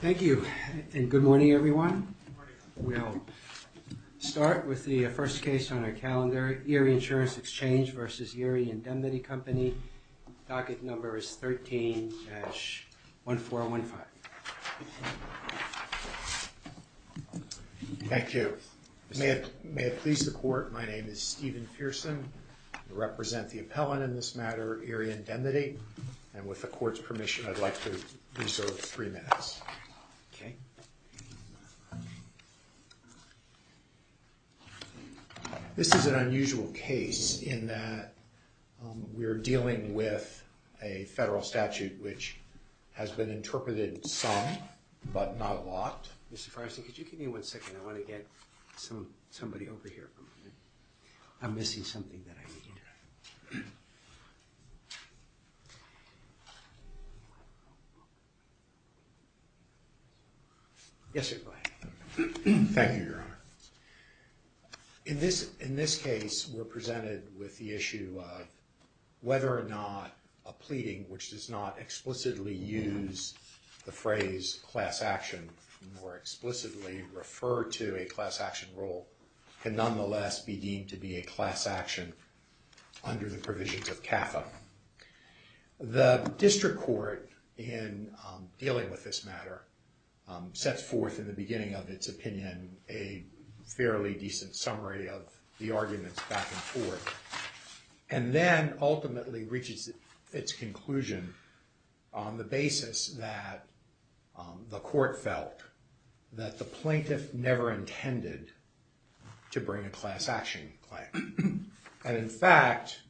Thank you, and good morning everyone. We'll start with the first case on our calendar, Erie Insurance Exchange versus Erie Indemnity Company. Docket number is 13-1415. Thank you. May it please the court, my name is Steven Pearson. I represent the appellant in this matter, Erie Indemnity, and with the court's permission, I'd like to reserve three minutes. This is an unusual case in that we're dealing with a federal statute which has been interpreted some, but not a lot. Mr. Farson, could you give me one second? I want to get some somebody over here. I'm missing something that I need. Yes, sir, go ahead. Thank you, Your Honor. In this, in this case, we're presented with the issue of whether or not a pleading which does not explicitly use the phrase class action, or explicitly refer to a class action rule, can nonetheless be deemed to be a class action under the provisions of CAFA. The district court, in dealing with this matter, sets forth in the beginning of its opinion a fairly decent summary of the arguments back and forth, and then ultimately reaches its conclusion on the basis that the court felt that the plaintiff never intended to bring a class action claim. And in fact,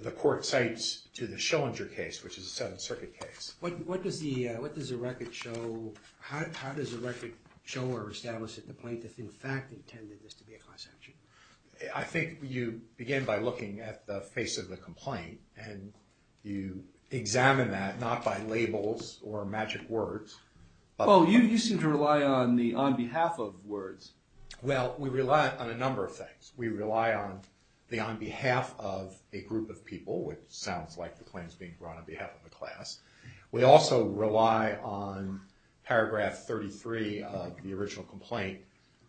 the court cites to the Schillinger case, which is a Seventh Circuit case. What does the, what does the record show, how does the record show or establish that the plaintiff in fact intended this to be a class action? I think you begin by looking at the face of the complaint, and you examine that, not by labels or magic words. Oh, you seem to rely on the on behalf of words. Well, we rely on a number of things. We rely on the on behalf of a group of people, which sounds like the claim is being brought on behalf of a class. We also rely on paragraph 33 of the original complaint,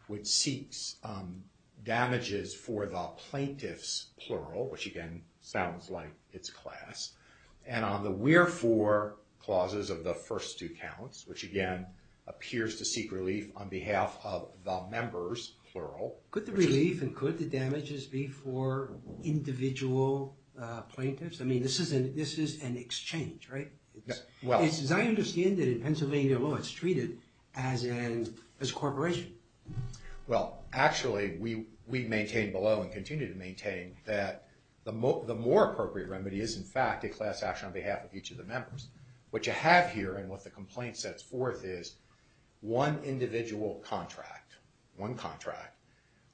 which seeks damages for the plaintiff's plural, which again sounds like it's class. And on the wherefore clauses of the first two counts, which again appears to seek relief on behalf of the members plural. Could the relief and could the damages be for individual plaintiffs? I mean, this is an exchange, right? Well, it's as I understand it in Pennsylvania law, it's treated as a corporation. Well, actually, we maintain below and continue to maintain that the more appropriate remedy is in fact a class action on behalf of each of the members. What you have here and what the complaint sets forth is one individual contract, one contract,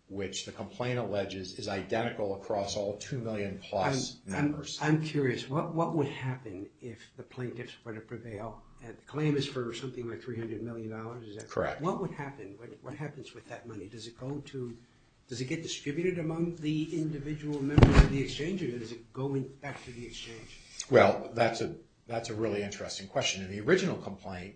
which the complaint alleges is identical across all 2 million plus members. I'm curious, what would happen if the plaintiffs were to prevail, and the claim is for something like $300 million? Correct. What would happen? What happens with that money? Does it go to, does it get distributed among the individual members of the exchange, or is it going back to the exchange? Well, that's a really interesting question. In the original complaint,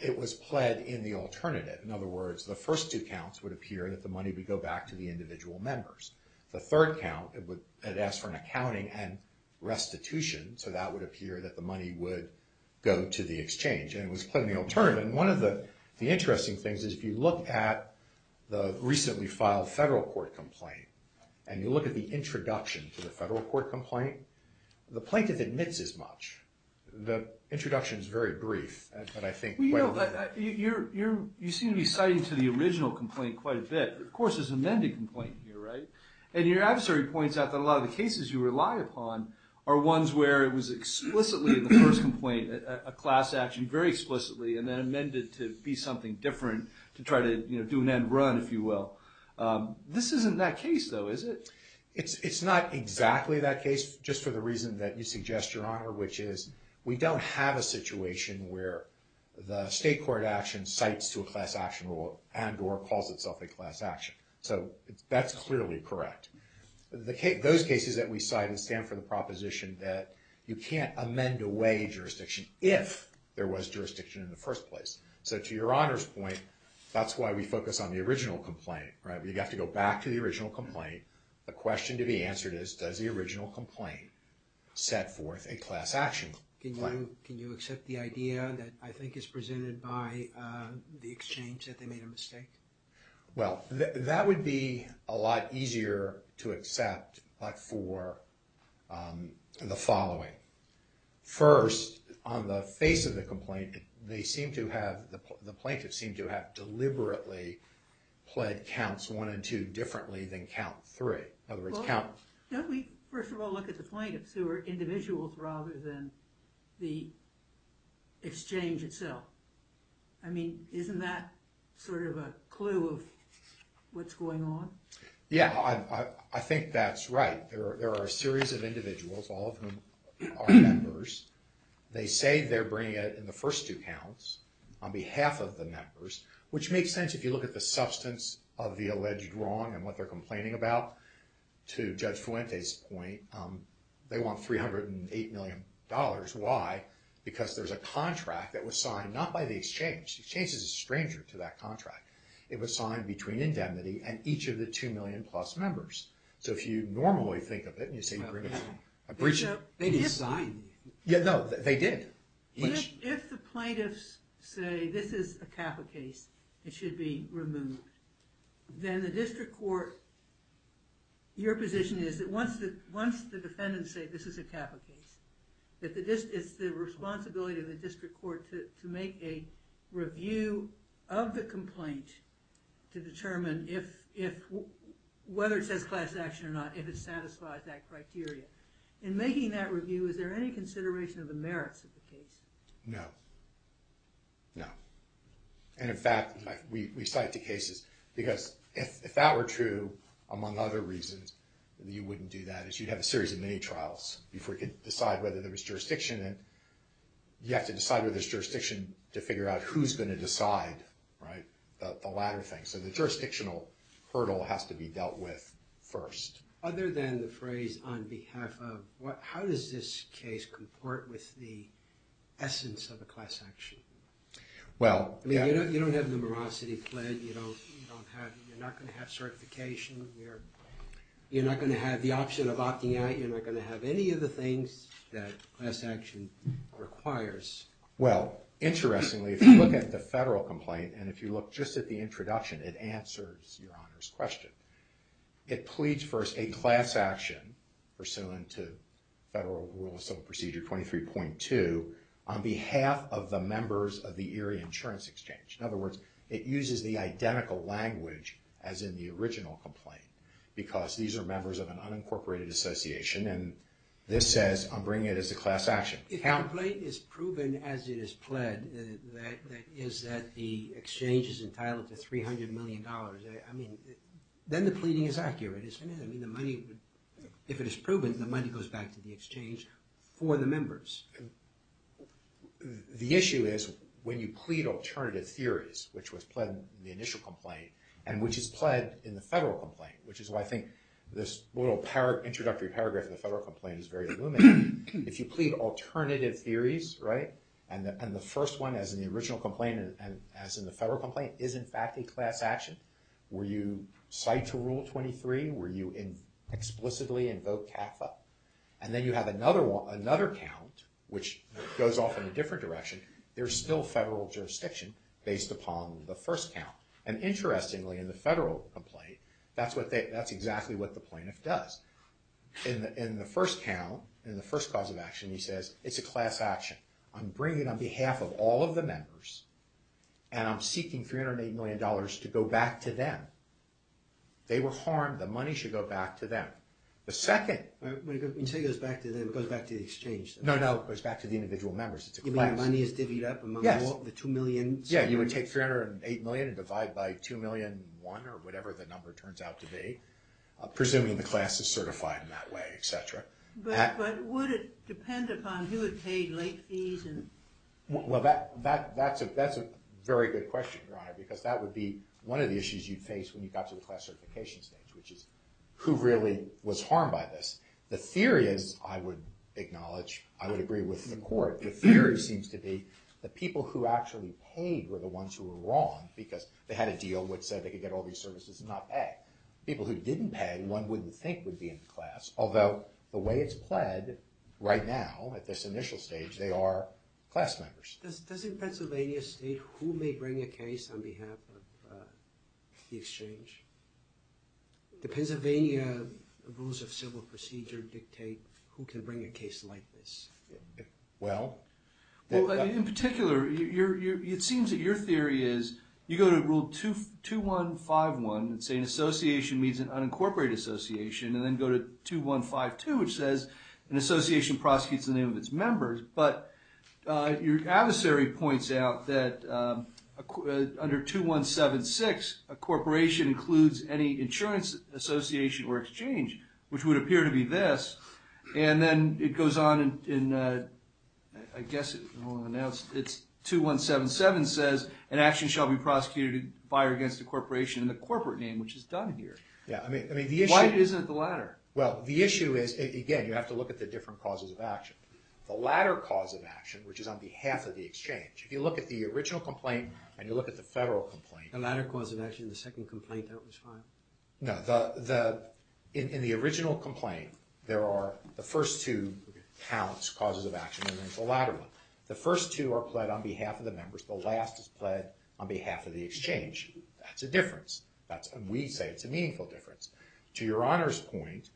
it was pled in the alternative. In other words, the first two counts would appear that the money would go back to the individual members. The third count, it would, it asked for an accounting and restitution, so that would appear that the money would go to the exchange. And it was pled in the alternative. And one of the interesting things is if you look at the recently filed federal court complaint, and you look at the introduction to the federal court complaint, the plaintiff admits as much. The introduction is very brief, but I think quite a bit. Well, you seem to be citing to the original complaint quite a bit. Of course, there's an amended complaint here, right? And your adversary points out that a lot of the cases you rely upon are ones where it was explicitly in the first complaint, a class action, very explicitly, and then amended to be something different to try to do an end run, if you will. This isn't that case, though, is it? It's not exactly that case, just for the reason that you suggest, Your Honor, which is we don't have a situation where the state court action cites to a class action rule and or calls itself a class action. So that's clearly correct. Those cases that we cite stand for the proposition that you can't amend away jurisdiction if there was jurisdiction in the first place. So to Your Honor's point, that's why we focus on the original complaint, right? You have to go back to the original complaint. The question to be answered is, does the original complaint set forth a class action? Can you accept the idea that I think is presented by the exchange that they made a mistake? Well, that would be a lot easier to accept, but for the following. First, on the face of the complaint, they seem to have, the plaintiffs seem to have deliberately pled counts one and two differently than count three. Well, don't we first of all look at the plaintiffs who are individuals rather than the exchange itself? I mean, isn't that sort of a clue of what's going on? Yeah, I think that's right. There are a series of individuals, all of whom are members. They say they're bringing it in the first two counts on behalf of the members, which makes sense if you look at the substance of the alleged wrong and what they're complaining about. To Judge Fuente's point, they want $308 million. Why? Because there's a contract that was signed, not by the exchange. The exchange is a stranger to that contract. It was signed between indemnity and each of the two million plus members. So if you normally think of it and you say you're going to breach it, they didn't sign it. No, they did. If the plaintiffs say this is a CAFA case, it should be removed, then the district court, your position is that once the defendants say this is a CAFA case, it's the responsibility of the district court to make a review of the complaint to determine whether it says class action or not, if it satisfies that criteria. In making that review, is there any consideration of the merits of the case? No. No. And in fact, we cite the cases because if that were true, among other reasons, you wouldn't do that. You'd have a series of mini-trials before you could decide whether there was jurisdiction. You have to decide whether there's jurisdiction to figure out who's going to decide the latter thing. So the jurisdictional hurdle has to be dealt with first. Other than the phrase on behalf of, how does this case comport with the essence of a class action? Well, yeah. You don't have numerosity pledged. You're not going to have certification. You're not going to have the option of opting out. You're not going to have any of the things that class action requires. Well, interestingly, if you look at the federal complaint, and if you look just at the introduction, it answers Your Honor's question. It pleads for a class action pursuant to Federal Rule of Civil Procedure 23.2 on behalf of the members of the Erie Insurance Exchange. In other words, it uses the identical language as in the original complaint, because these are members of an unincorporated association, and this says, I'm bringing it as a class action. If the complaint is proven as it is pledged, that is that the exchange is entitled to $300 million, I mean, then the pleading is accurate, isn't it? I mean, the money would, if it is proven, the money goes back to the exchange for the members. The issue is, when you plead alternative theories, which was pledged in the initial complaint, and which is pledged in the federal complaint, which is why I think this little introductory paragraph in the federal complaint is very illuminating, if you plead alternative theories, right, and the first one, as in the original complaint and as in the federal complaint, is in fact a class action, where you cite to Rule 23, where you explicitly invoke CAFA, and then you have another count, which goes off in a different direction, there's still federal jurisdiction based upon the first count, and interestingly, in the federal complaint, that's exactly what the plaintiff does. In the first count, in the first cause of action, he says, it's a class action. I'm bringing it on behalf of all of the members, and I'm seeking $308 million to go back to them. They were harmed, the money should go back to them. The second... When you say it goes back to them, it goes back to the exchange? No, no, it goes back to the individual members. You mean the money is divvied up among the two million? Yeah, you would take $308 million and divide by $2,000,001 or whatever the number turns out to be, presuming the class is certified in that way, etc. But would it depend upon who had paid late fees? Well, that's a very good question, Your Honor, because that would be one of the issues you'd face when you got to the class certification stage, which is, who really was harmed by this? The theory is, I would acknowledge, I would agree with the court, the theory seems to be that people who actually paid were the ones who were wrong, because they had a deal which said they could get all these services and not pay. People who didn't pay, one wouldn't think would be in the class, although the way it's played right now at this initial stage, they are class members. Does Pennsylvania state who may bring a case on behalf of the exchange? Do Pennsylvania rules of civil procedure dictate who can bring a case like this? Well, in particular, it seems that your theory is, you go to rule 2151 and say an association means an unincorporated association, and then go to 2152, which says an association prosecutes in the name of its members. But your adversary points out that under 2176, a corporation includes any insurance association or exchange, which would appear to be this, and then it goes on in, I guess, it's 2177 says, an action shall be prosecuted by or against a corporation in the corporate name, which is done here. Yeah, I mean, the issue is, again, you have to look at the different causes of action. The latter cause of action, which is on behalf of the exchange, if you look at the original complaint and you look at the federal complaint... The latter cause of action, the second complaint, that was fine? No, in the original complaint, there are the first two counts, causes of action, and then the latter one. The first two are pled on behalf of the members, the last is pled on behalf of the exchange. That's a difference. We say it's a meaningful difference. To your honor's point,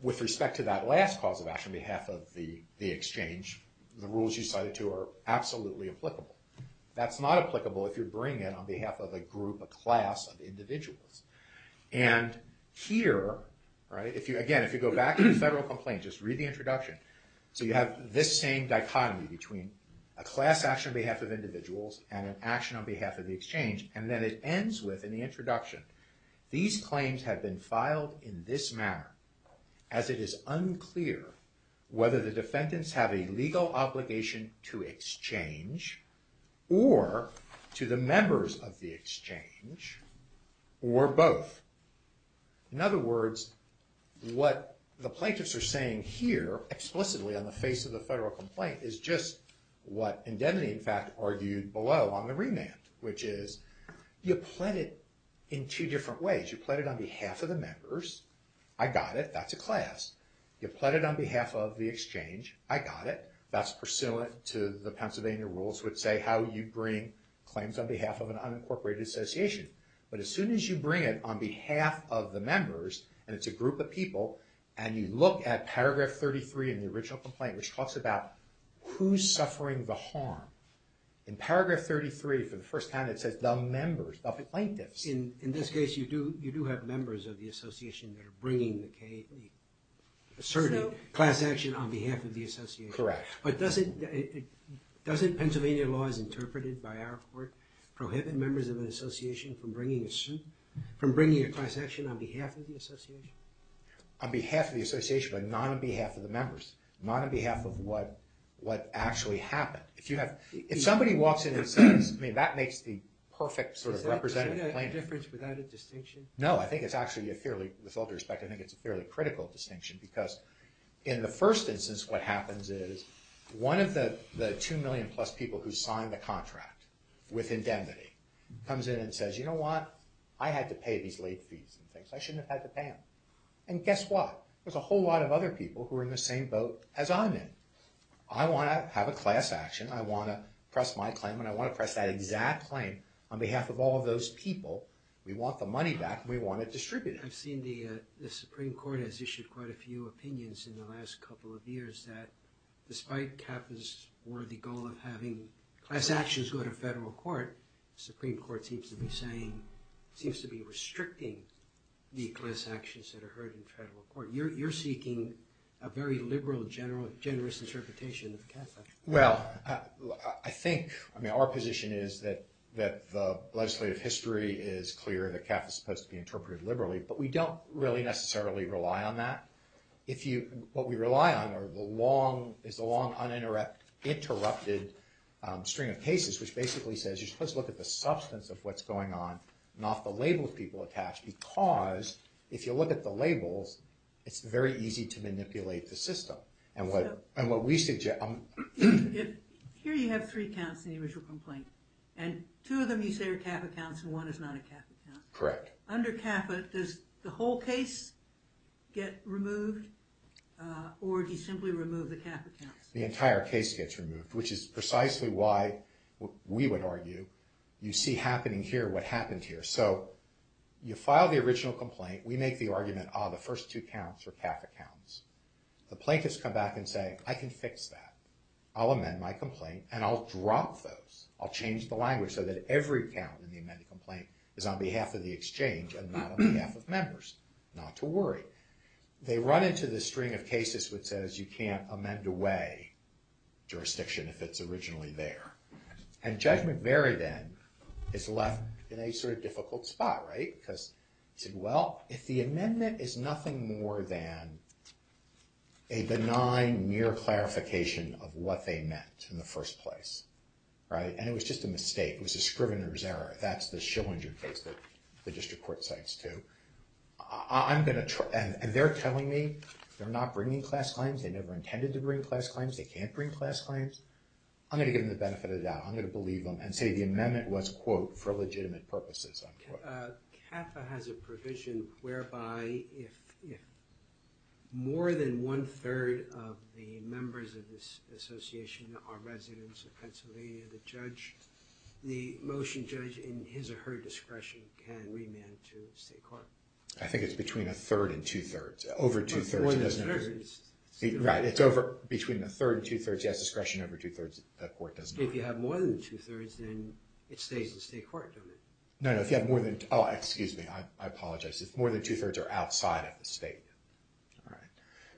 with respect to that last cause of action on behalf of the exchange, the rules you cited to are absolutely applicable. That's not applicable if you're bringing it on behalf of a group, a class of individuals. And here, again, if you go back to the federal complaint, just read the introduction, so you have this same dichotomy between a class action on behalf of individuals and an action on behalf of the exchange, and then it ends with, in the introduction, these claims have been filed in this manner, as it is unclear whether the defendants have a legal obligation to exchange or to the members of the exchange, or both. In other words, what the plaintiffs are saying here, explicitly on the face of the federal complaint, is just what Indemnity, in fact, argued below on the remand. Which is, you pled it in two different ways. You pled it on behalf of the members, I got it, that's a class. You pled it on behalf of the exchange, I got it, that's pursuant to the Pennsylvania rules, which say how you bring claims on behalf of an unincorporated association. But as soon as you bring it on behalf of the members, and it's a group of people, and you look at paragraph 33 in the original complaint, which talks about who's suffering the harm. In paragraph 33, for the first time, it says the members, the plaintiffs. In this case, you do have members of the association that are bringing the KAD, asserting class action on behalf of the association. Correct. But doesn't Pennsylvania law, as interpreted by our court, prohibit members of an association from bringing a class action on behalf of the association? On behalf of the association, but not on behalf of the members. Not on behalf of what actually happened. If somebody walks in and says, I mean, that makes the perfect sort of representative plaintiff. Is there a difference without a distinction? No, I think it's actually a fairly, with all due respect, I think it's a fairly critical distinction, because in the first instance, what happens is, one of the two million plus people who signed the contract with indemnity comes in and says, you know what, I had to pay these late fees and things, I shouldn't have had to pay them. And guess what, there's a whole lot of other people who are in the same boat as I'm in. I want to have a class action, I want to press my claim, and I want to press that exact claim on behalf of all of those people. We want the money back, and we want it distributed. I've seen the Supreme Court has issued quite a few opinions in the last couple of years that, despite KAPA's worthy goal of having class actions go to federal court, the Supreme Court seems to be saying, seems to be restricting the class actions that are heard in federal court. You're seeking a very liberal, generous interpretation of KAPA. Well, I think, I mean, our position is that the legislative history is clear, that KAPA is supposed to be interpreted liberally, but we don't really necessarily rely on that. What we rely on is the long, uninterrupted string of cases, which basically says you're supposed to look at the substance of what's going on, not the labels people attach, because if you look at the labels, it's very easy to manipulate the system. And what we suggest... Here you have three counts in the original complaint, and two of them you say are KAPA counts, and one is not a KAPA count. Correct. Under KAPA, does the whole case get removed, or do you simply remove the KAPA counts? The entire case gets removed, which is precisely why, we would argue, you see happening here what happened here. So, you file the original complaint, we make the argument, ah, the first two counts are KAPA counts. The plaintiffs come back and say, I can fix that. I'll amend my complaint, and I'll drop those. I'll change the language so that every count in the amended complaint is on behalf of the exchange and not on behalf of members. Not to worry. They run into the string of cases which says you can't amend away jurisdiction if it's originally there. And Judge McMurray, then, is left in a sort of difficult spot, right? Because, he said, well, if the amendment is nothing more than a benign, mere clarification of what they meant in the first place, and it was just a mistake, it was a scrivener's error, that's the Schillinger case that the district court cites too, I'm going to... and they're telling me they're not bringing class claims, they never intended to bring class claims, they can't bring class claims. I'm going to give them the benefit of the doubt. I'm going to believe them and say the amendment was, quote, for legitimate purposes, unquote. KAPA has a provision whereby if more than one-third of the members of this association are residents of Pennsylvania, the judge, the motion judge, in his or her discretion, can remand to state court. I think it's between a third and two-thirds. Over two-thirds. Right, it's between a third and two-thirds, he has discretion over two-thirds, the court doesn't. If you have more than two-thirds, then it stays in state court, doesn't it? No, no, if you have more than... oh, excuse me, I apologize. If more than two-thirds are outside of the state.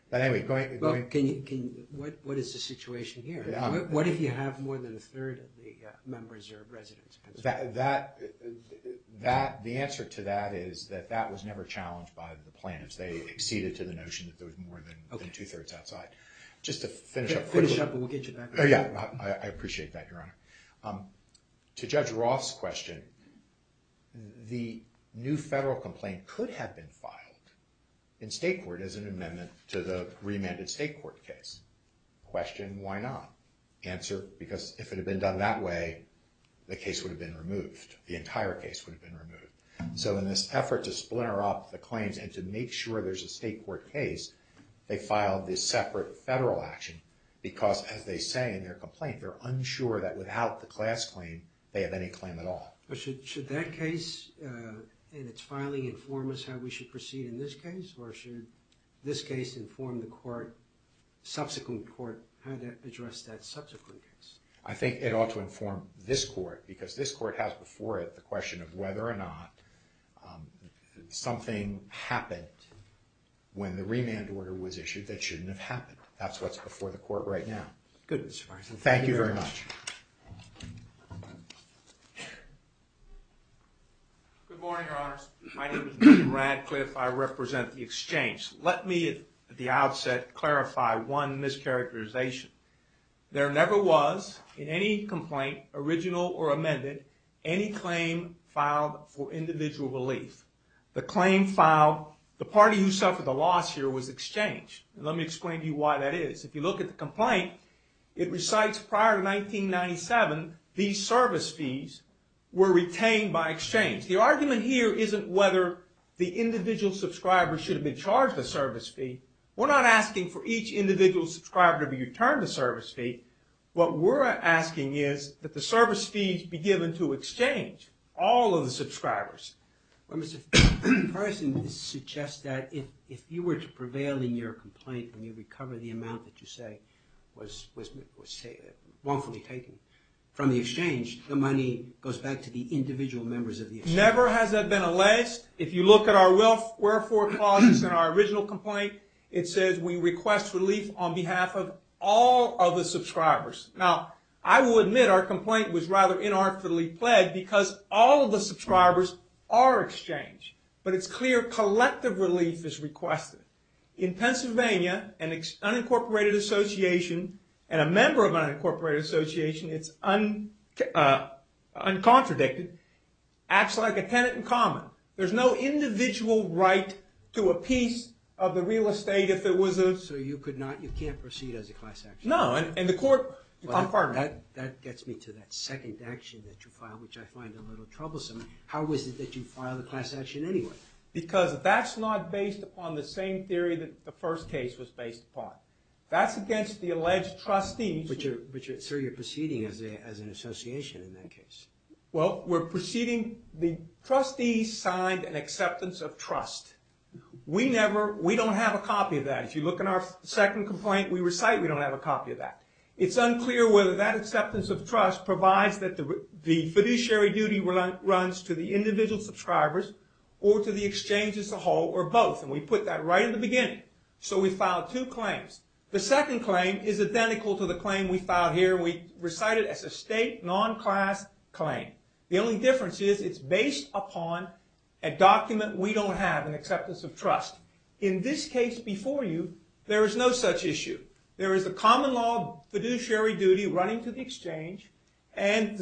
But anyway, going... Well, can you... what is the situation here? What if you have more than a third of the members are residents of Pennsylvania? That... the answer to that is that that was never challenged by the plaintiffs. They acceded to the notion that there was more than two-thirds outside. Just to finish up quickly... Finish up and we'll get you back. Oh, yeah, I appreciate that, Your Honor. To Judge Roth's question, the new federal complaint could have been filed in state court as an amendment to the remanded state court case. Question, why not? Answer, because if it had been done that way, the case would have been removed. The entire case would have been removed. So in this effort to splinter off the claims and to make sure there's a state court case, they filed this separate federal action because, as they say in their complaint, they're unsure that without the class claim, they have any claim at all. But should that case and its filing inform us how we should proceed in this case? Or should this case inform the court, subsequent court, how to address that subsequent case? I think it ought to inform this court because this court has before it the question of whether or not something happened when the remand order was issued that shouldn't have happened. That's what's before the court right now. Good. Thank you very much. Good morning, Your Honors. My name is Dean Radcliffe. I represent the exchange. Let me, at the outset, clarify one mischaracterization. There never was, in any complaint, original or amended, any claim filed for individual relief. The claim filed, the party who suffered the loss here was exchange. Let me explain to you why that is. If you look at the complaint, it recites prior to 1997, these service fees were retained by exchange. The argument here isn't whether the individual subscribers should have been charged a service fee. We're not asking for each individual subscriber to be returned a service fee. What we're asking is that the service fees be given to exchange, all of the subscribers. Well, Mr. Ferson, this suggests that if you were to prevail in your complaint, when you recover the amount that you say was wrongfully taken from the exchange, the money goes back to the individual members of the exchange. Never has that been alleged. If you look at our wherefore clauses in our original complaint, it says we request relief on behalf of all of the subscribers. Now, I will admit our complaint was rather inarticulately plagued because all of the subscribers are exchange. But it's clear collective relief is requested. In Pennsylvania, an unincorporated association and a member of an unincorporated association, it's uncontradicted, acts like a tenant in common. There's no individual right to a piece of the real estate if it was a- So you can't proceed as a class action? No, and the court- That gets me to that second action that you filed, which I find a little troublesome. How is it that you filed a class action anyway? Because that's not based upon the same theory that the first case was based upon. That's against the alleged trustees- But, sir, you're proceeding as an association in that case. Well, we're proceeding- The trustees signed an acceptance of trust. We don't have a copy of that. If you look in our second complaint, we recite we don't have a copy of that. It's unclear whether that acceptance of trust provides that the fiduciary duty runs to the individual subscribers or to the exchange as a whole or both. And we put that right in the beginning. So we filed two claims. The second claim is identical to the claim we filed here. We recite it as a state non-class claim. The only difference is it's based upon a document we don't have, an acceptance of trust. In this case before you, there is no such issue. There is a common law fiduciary duty running to the exchange, and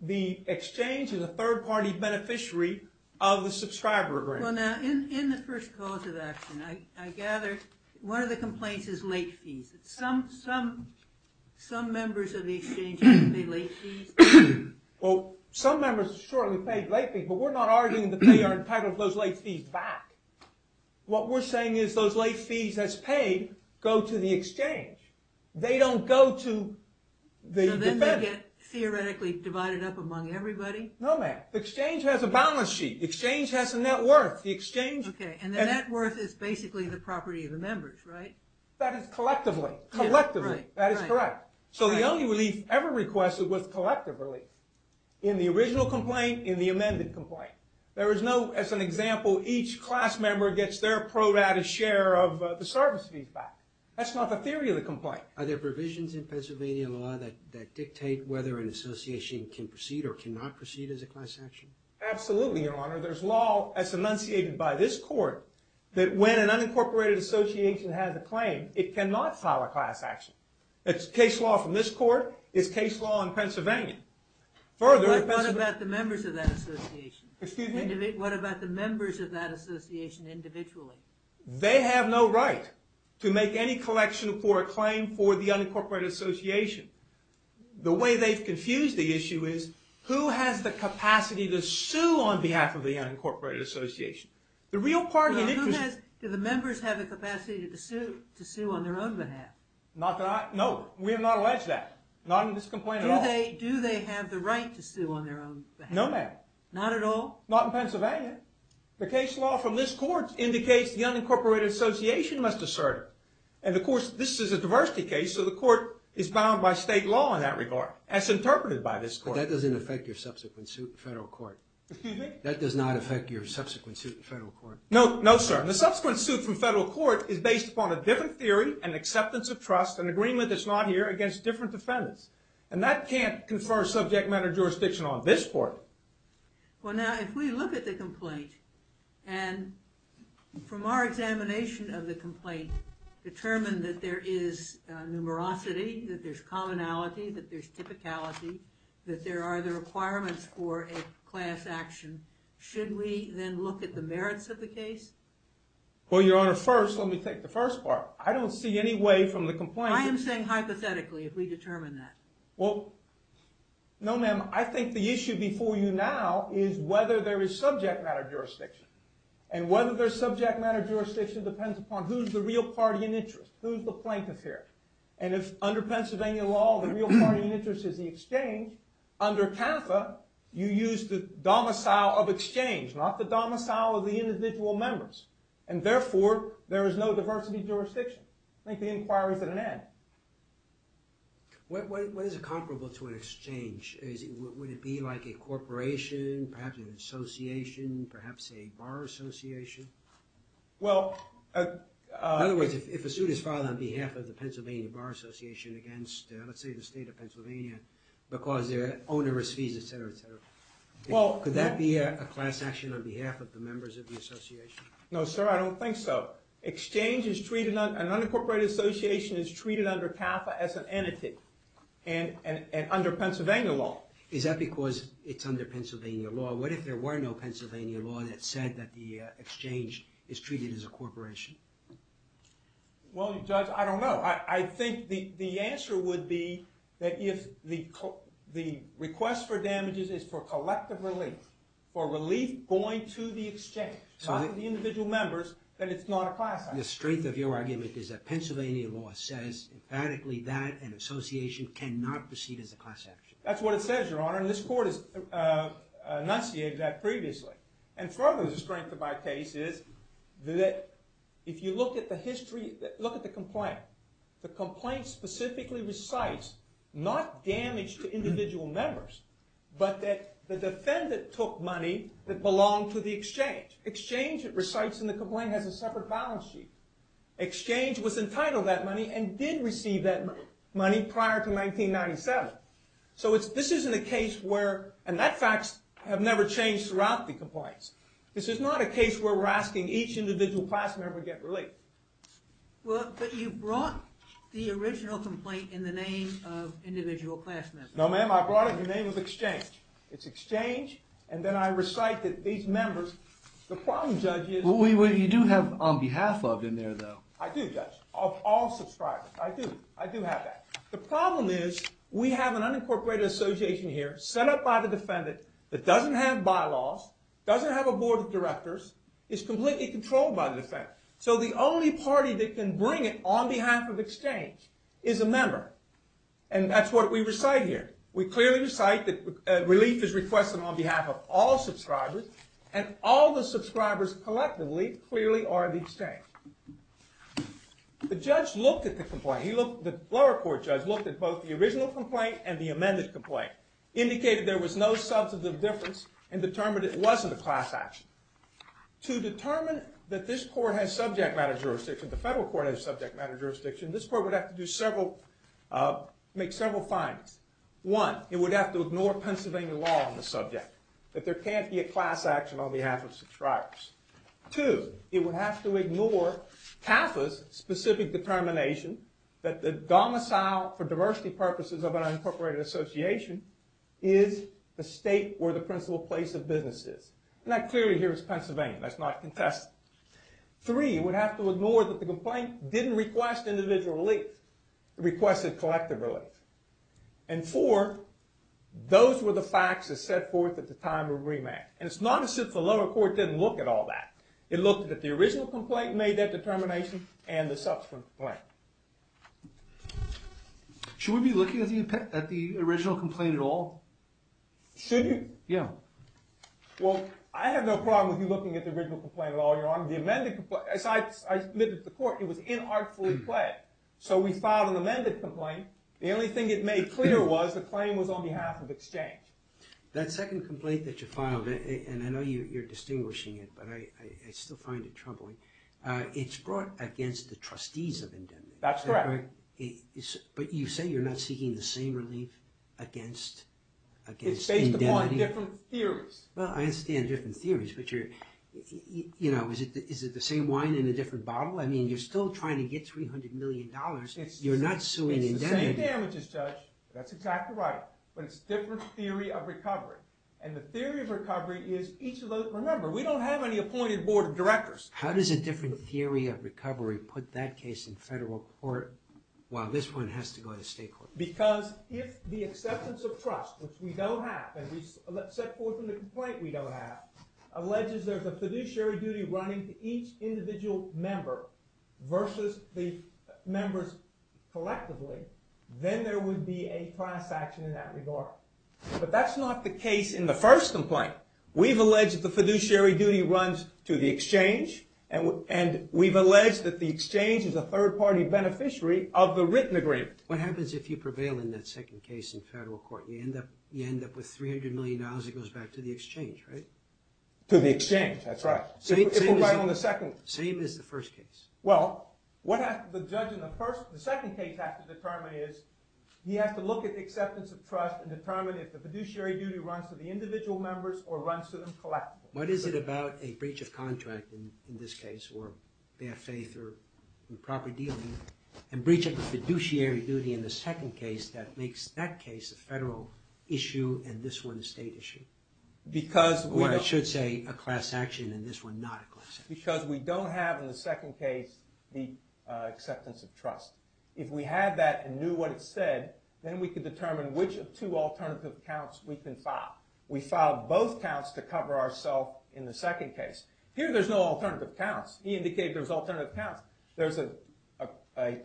the exchange is a third-party beneficiary of the subscriber grant. Well, now, in the first cause of action, I gather one of the complaints is late fees. Some members of the exchange pay late fees. Well, some members have shortly paid late fees, but we're not arguing that they are entitled to those late fees back. What we're saying is those late fees as paid go to the exchange. They don't go to the- So then they get theoretically divided up among everybody? No, ma'am. The exchange has a balance sheet. The exchange has a net worth. The exchange- Okay, and the net worth is basically the property of the members, right? That is collectively. Collectively. That is correct. So the only relief ever requested was collective relief. In the original complaint, in the amended complaint. There is no, as an example, each class member gets their pro rata share of the service fees back. That's not the theory of the complaint. Are there provisions in Pennsylvania law that dictate whether an association can proceed or cannot proceed as a class action? Absolutely, your honor. There's law, as enunciated by this court, that when an unincorporated association has a claim, it cannot file a class action. It's case law from this court. It's case law in Pennsylvania. What about the members of that association? Excuse me? What about the members of that association individually? They have no right to make any collection for a claim for the unincorporated association. The way they've confused the issue is, who has the capacity to sue on behalf of the unincorporated association? The real part of it is... Do the members have the capacity to sue on their own behalf? No, we have not alleged that. Not in this complaint at all. Do they have the right to sue on their own behalf? No, ma'am. Not at all? Not in Pennsylvania. The case law from this court indicates the unincorporated association must assert it. And of course, this is a diversity case, so the court is bound by state law in that regard, as interpreted by this court. But that doesn't affect your subsequent suit in federal court. Excuse me? That does not affect your subsequent suit in federal court. No, sir. The subsequent suit from federal court is based upon a different theory and acceptance of trust, an agreement that's not here, against different defendants. And that can't confer subject matter jurisdiction on this court. Well, now, if we look at the complaint, and from our examination of the complaint, determine that there is numerosity, that there's commonality, that there's typicality, that there are the requirements for a class action, should we then look at the merits of the case? Well, Your Honor, first, let me take the first part. I don't see any way from the complaint... I am saying hypothetically, if we determine that. Well, no, ma'am. I think the issue before you now is whether there is subject matter jurisdiction. And whether there's subject matter jurisdiction depends upon who's the real party in interest, who's the plaintiff here. And if under Pennsylvania law, the real party in interest is the exchange, under CAFA, you use the domicile of exchange, not the domicile of the individual members. And therefore, there is no diversity jurisdiction. I think the inquiry's at an end. What is comparable to an exchange? Would it be like a corporation, perhaps an association, perhaps a bar association? Well... In other words, if a suit is filed on behalf of the Pennsylvania Bar Association against, let's say, the state of Pennsylvania, because they're onerous fees, etc., etc., could that be a class action on behalf of the members of the association? No, sir, I don't think so. An unincorporated association is treated under CAFA as an entity and under Pennsylvania law. Is that because it's under Pennsylvania law? What if there were no Pennsylvania law that said that the exchange is treated as a corporation? Well, Judge, I don't know. I think the answer would be that if the request for damages is for collective relief, for relief going to the exchange, not to the individual members, then it's not a class action. The strength of your argument is that Pennsylvania law says emphatically that an association cannot proceed as a class action. That's what it says, Your Honor, and this court has enunciated that previously. And further, the strength of my case is that if you look at the history, look at the complaint, the complaint specifically recites not damage to individual members, but that the defendant took money that belonged to the exchange. Exchange, it recites in the complaint, has a separate balance sheet. Exchange was entitled to that money and did receive that money prior to 1997. So this isn't a case where, and that facts have never changed throughout the complaints, this is not a case where we're asking each individual class member to get relief. Well, but you brought the original complaint in the name of individual class members. No, ma'am, I brought it in the name of exchange. It's exchange, and then I recite that these members, the problem, Judge, is- Well, you do have on behalf of in there, though. I do, Judge, of all subscribers. I do. I do have that. The problem is we have an unincorporated association here set up by the defendant that doesn't have bylaws, doesn't have a board of directors, is completely controlled by the defendant. So the only party that can bring it on behalf of exchange is a member, and that's what we recite here. We clearly recite that relief is requested on behalf of all subscribers, and all the subscribers collectively clearly are the exchange. The judge looked at the complaint. The lower court judge looked at both the original complaint and the amended complaint, indicated there was no substantive difference, and determined it wasn't a class action. To determine that this court has subject matter jurisdiction, the federal court has subject matter jurisdiction, this court would have to make several findings. One, it would have to ignore Pennsylvania law on the subject, that there can't be a class action on behalf of subscribers. Two, it would have to ignore TAFA's specific determination that the domicile for diversity purposes of an unincorporated association is the state where the principal place of business is. And that clearly here is Pennsylvania. That's not contested. Three, it would have to ignore that the complaint didn't request individual relief. It requested collective relief. And four, those were the facts that set forth at the time of remand. And it's not as if the lower court didn't look at all that. It looked at the original complaint, made that determination, and the subsequent complaint. Should we be looking at the original complaint at all? Should you? Yeah. Well, I have no problem with you looking at the original complaint at all, Your Honor. The amended complaint, as I admitted to the court, it was inartfully pled. So we filed an amended complaint. The only thing it made clear was the claim was on behalf of exchange. That second complaint that you filed, and I know you're distinguishing it, but I still find it troubling. It's brought against the trustees of indemnity. That's correct. But you say you're not seeking the same relief against indemnity? It's based upon different theories. Well, I understand different theories, but you're, you know, is it the same wine in a different bottle? I mean, you're still trying to get $300 million. You're not suing indemnity. It's the same damages, Judge. That's exactly right. But it's a different theory of recovery. And the theory of recovery is each of those, remember, we don't have any appointed board of directors. How does a different theory of recovery put that case in federal court while this one has to go to state court? Because if the acceptance of trust, which we don't have, and we set forth in the complaint we don't have, alleges there's a fiduciary duty running to each individual member versus the members collectively, then there would be a class action in that regard. But that's not the case in the first complaint. We've alleged that the fiduciary duty runs to the exchange, and we've alleged that the exchange is a third-party beneficiary of the written agreement. What happens if you prevail in that second case in federal court? You end up with $300 million that goes back to the exchange, right? To the exchange, that's right. Same as the first case. Well, what the judge in the second case has to determine is he has to look at the acceptance of trust and determine if the fiduciary duty runs to the individual members or runs to them collectively. What is it about a breach of contract in this case, or bare faith or improper dealing, and breaching the fiduciary duty in the second case that makes that case a federal issue and this one a state issue? Or I should say a class action and this one not a class action. It's because we don't have in the second case the acceptance of trust. If we had that and knew what it said, then we could determine which of two alternative counts we can file. We filed both counts to cover ourselves in the second case. Here there's no alternative counts. He indicated there's alternative counts. There's a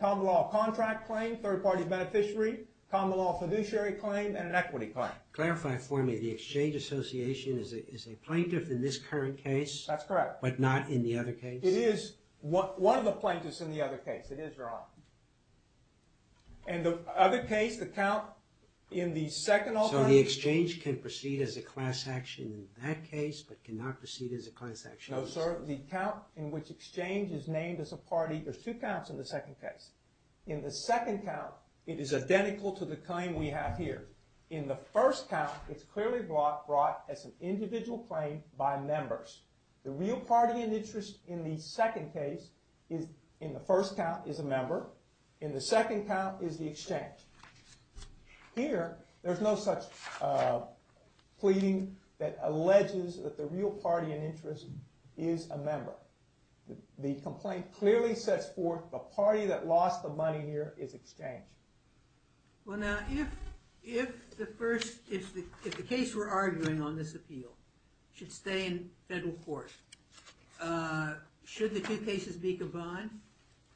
common law contract claim, third-party beneficiary, common law fiduciary claim, and an equity claim. Clarify for me, the exchange association is a plaintiff in this current case? That's correct. But not in the other case? It is one of the plaintiffs in the other case. It is your honor. And the other case, the count in the second alternative? So the exchange can proceed as a class action in that case but cannot proceed as a class action in this case? No, sir. The count in which exchange is named as a party, there's two counts in the second case. In the second count, it is identical to the claim we have here. In the first count, it's clearly brought as an individual claim by members. The real party in interest in the second case, in the first count, is a member. In the second count is the exchange. Here, there's no such pleading that alleges that the real party in interest is a member. The complaint clearly sets forth the party that lost the money here is exchange. Well, now, if the case we're arguing on this appeal should stay in federal court, should the two cases be combined?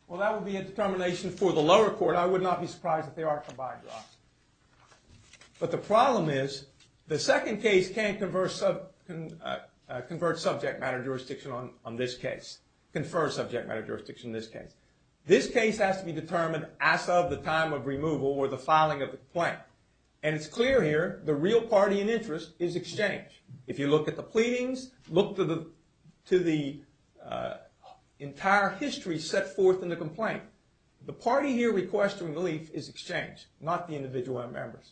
Well, that would be a determination for the lower court. I would not be surprised if they are combined, Ross. But the problem is the second case can't convert subject matter jurisdiction on this case, confer subject matter jurisdiction on this case. This case has to be determined as of the time of removal or the filing of the complaint. And it's clear here the real party in interest is exchange. If you look at the pleadings, look to the entire history set forth in the complaint. The party here requesting relief is exchange, not the individual members.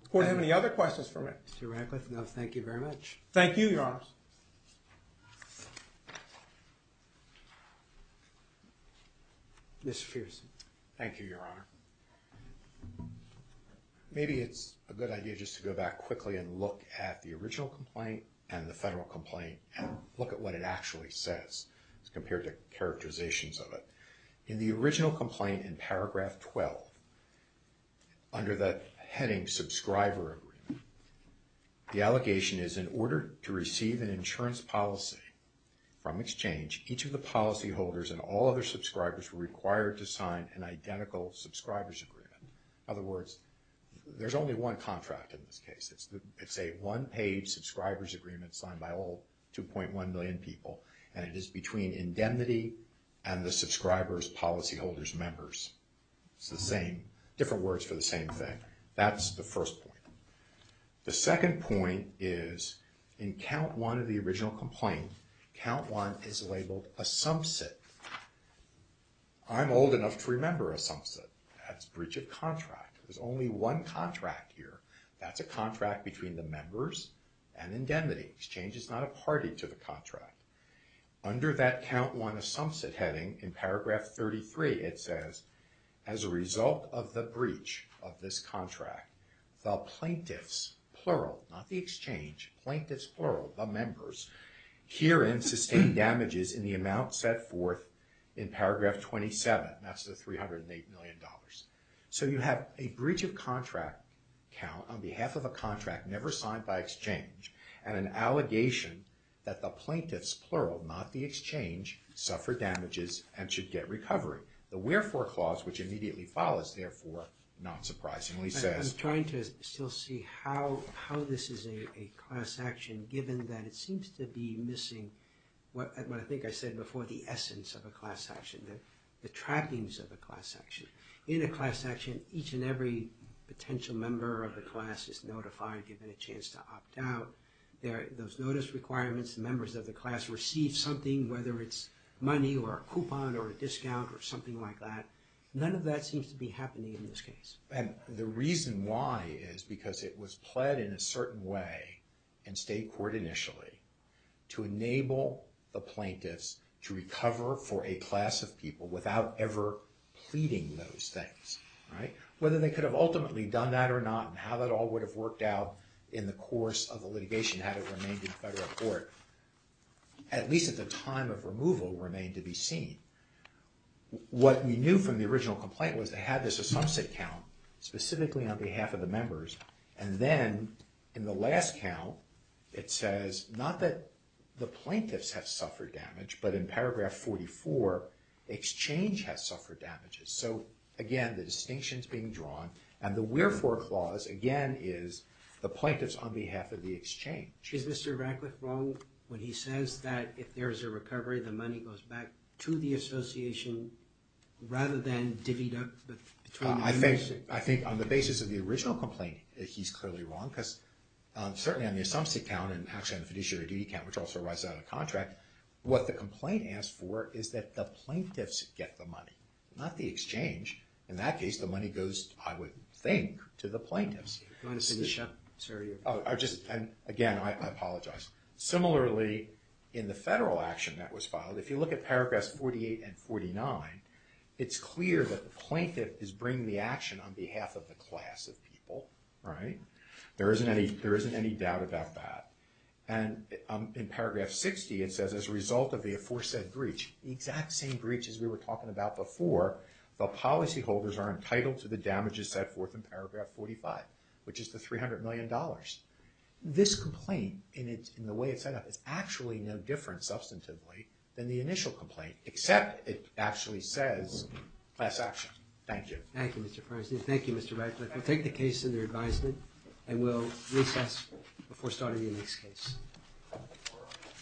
Does the court have any other questions for me? Thank you, Your Honor. Mr. Fierstein. Thank you, Your Honor. Maybe it's a good idea just to go back quickly and look at the original complaint and the federal complaint and look at what it actually says compared to characterizations of it. In the original complaint in paragraph 12, under the heading subscriber agreement, the allegation is in order to receive an insurance policy from exchange, each of the policyholders and all other subscribers were required to sign an identical subscriber's agreement. In other words, there's only one contract in this case. It's a one-page subscriber's agreement signed by all 2.1 million people, and it is between indemnity and the subscriber's policyholder's members. It's the same, different words for the same thing. That's the first point. The second point is in count one of the original complaint, count one is labeled a sumsit. I'm old enough to remember a sumsit. That's breach of contract. There's only one contract here. That's a contract between the members and indemnity. Exchange is not a party to the contract. Under that count one of sumsit heading, in paragraph 33, it says, as a result of the breach of this contract, the plaintiffs, plural, not the exchange, plaintiffs, plural, the members, herein sustain damages in the amount set forth in paragraph 27. That's the $308 million. So you have a breach of contract count on behalf of a contract never signed by exchange and an allegation that the plaintiffs, plural, not the exchange, suffer damages and should get recovery. The wherefore clause, which immediately follows, therefore, not surprisingly says... given that it seems to be missing what I think I said before, the essence of a class action, the trappings of a class action. In a class action, each and every potential member of the class is notified, given a chance to opt out. Those notice requirements, members of the class receive something, whether it's money or a coupon or a discount or something like that. None of that seems to be happening in this case. And the reason why is because it was pled in a certain way in state court initially to enable the plaintiffs to recover for a class of people without ever pleading those things. Whether they could have ultimately done that or not and how that all would have worked out in the course of the litigation had it remained in federal court, at least at the time of removal, remained to be seen. What we knew from the original complaint was they had this a subset count, specifically on behalf of the members. And then in the last count, it says not that the plaintiffs have suffered damage, but in paragraph 44, the exchange has suffered damages. So, again, the distinction's being drawn. And the wherefore clause, again, is the plaintiffs on behalf of the exchange. Is Mr. Ratcliffe wrong when he says that if there's a recovery, the money goes back to the association rather than divvied up between the members? I think on the basis of the original complaint, he's clearly wrong because certainly on the assumption count and actually on the fiduciary duty count, which also arises out of contract, what the complaint asks for is that the plaintiffs get the money, not the exchange. In that case, the money goes, I would think, to the plaintiffs. Again, I apologize. Similarly, in the federal action that was filed, if you look at paragraphs 48 and 49, it's clear that the plaintiff is bringing the action on behalf of the class of people, right? There isn't any doubt about that. And in paragraph 60, it says as a result of the aforesaid breach, the exact same breach as we were talking about before, the policyholders are entitled to the damages set forth in paragraph 45, which is the $300 million. This complaint in the way it's set up is actually no different substantively than the initial complaint, except it actually says class action. Thank you. Thank you, Mr. President. Thank you, Mr. Ratcliffe. We'll take the case under advisement and we'll recess before starting the next case.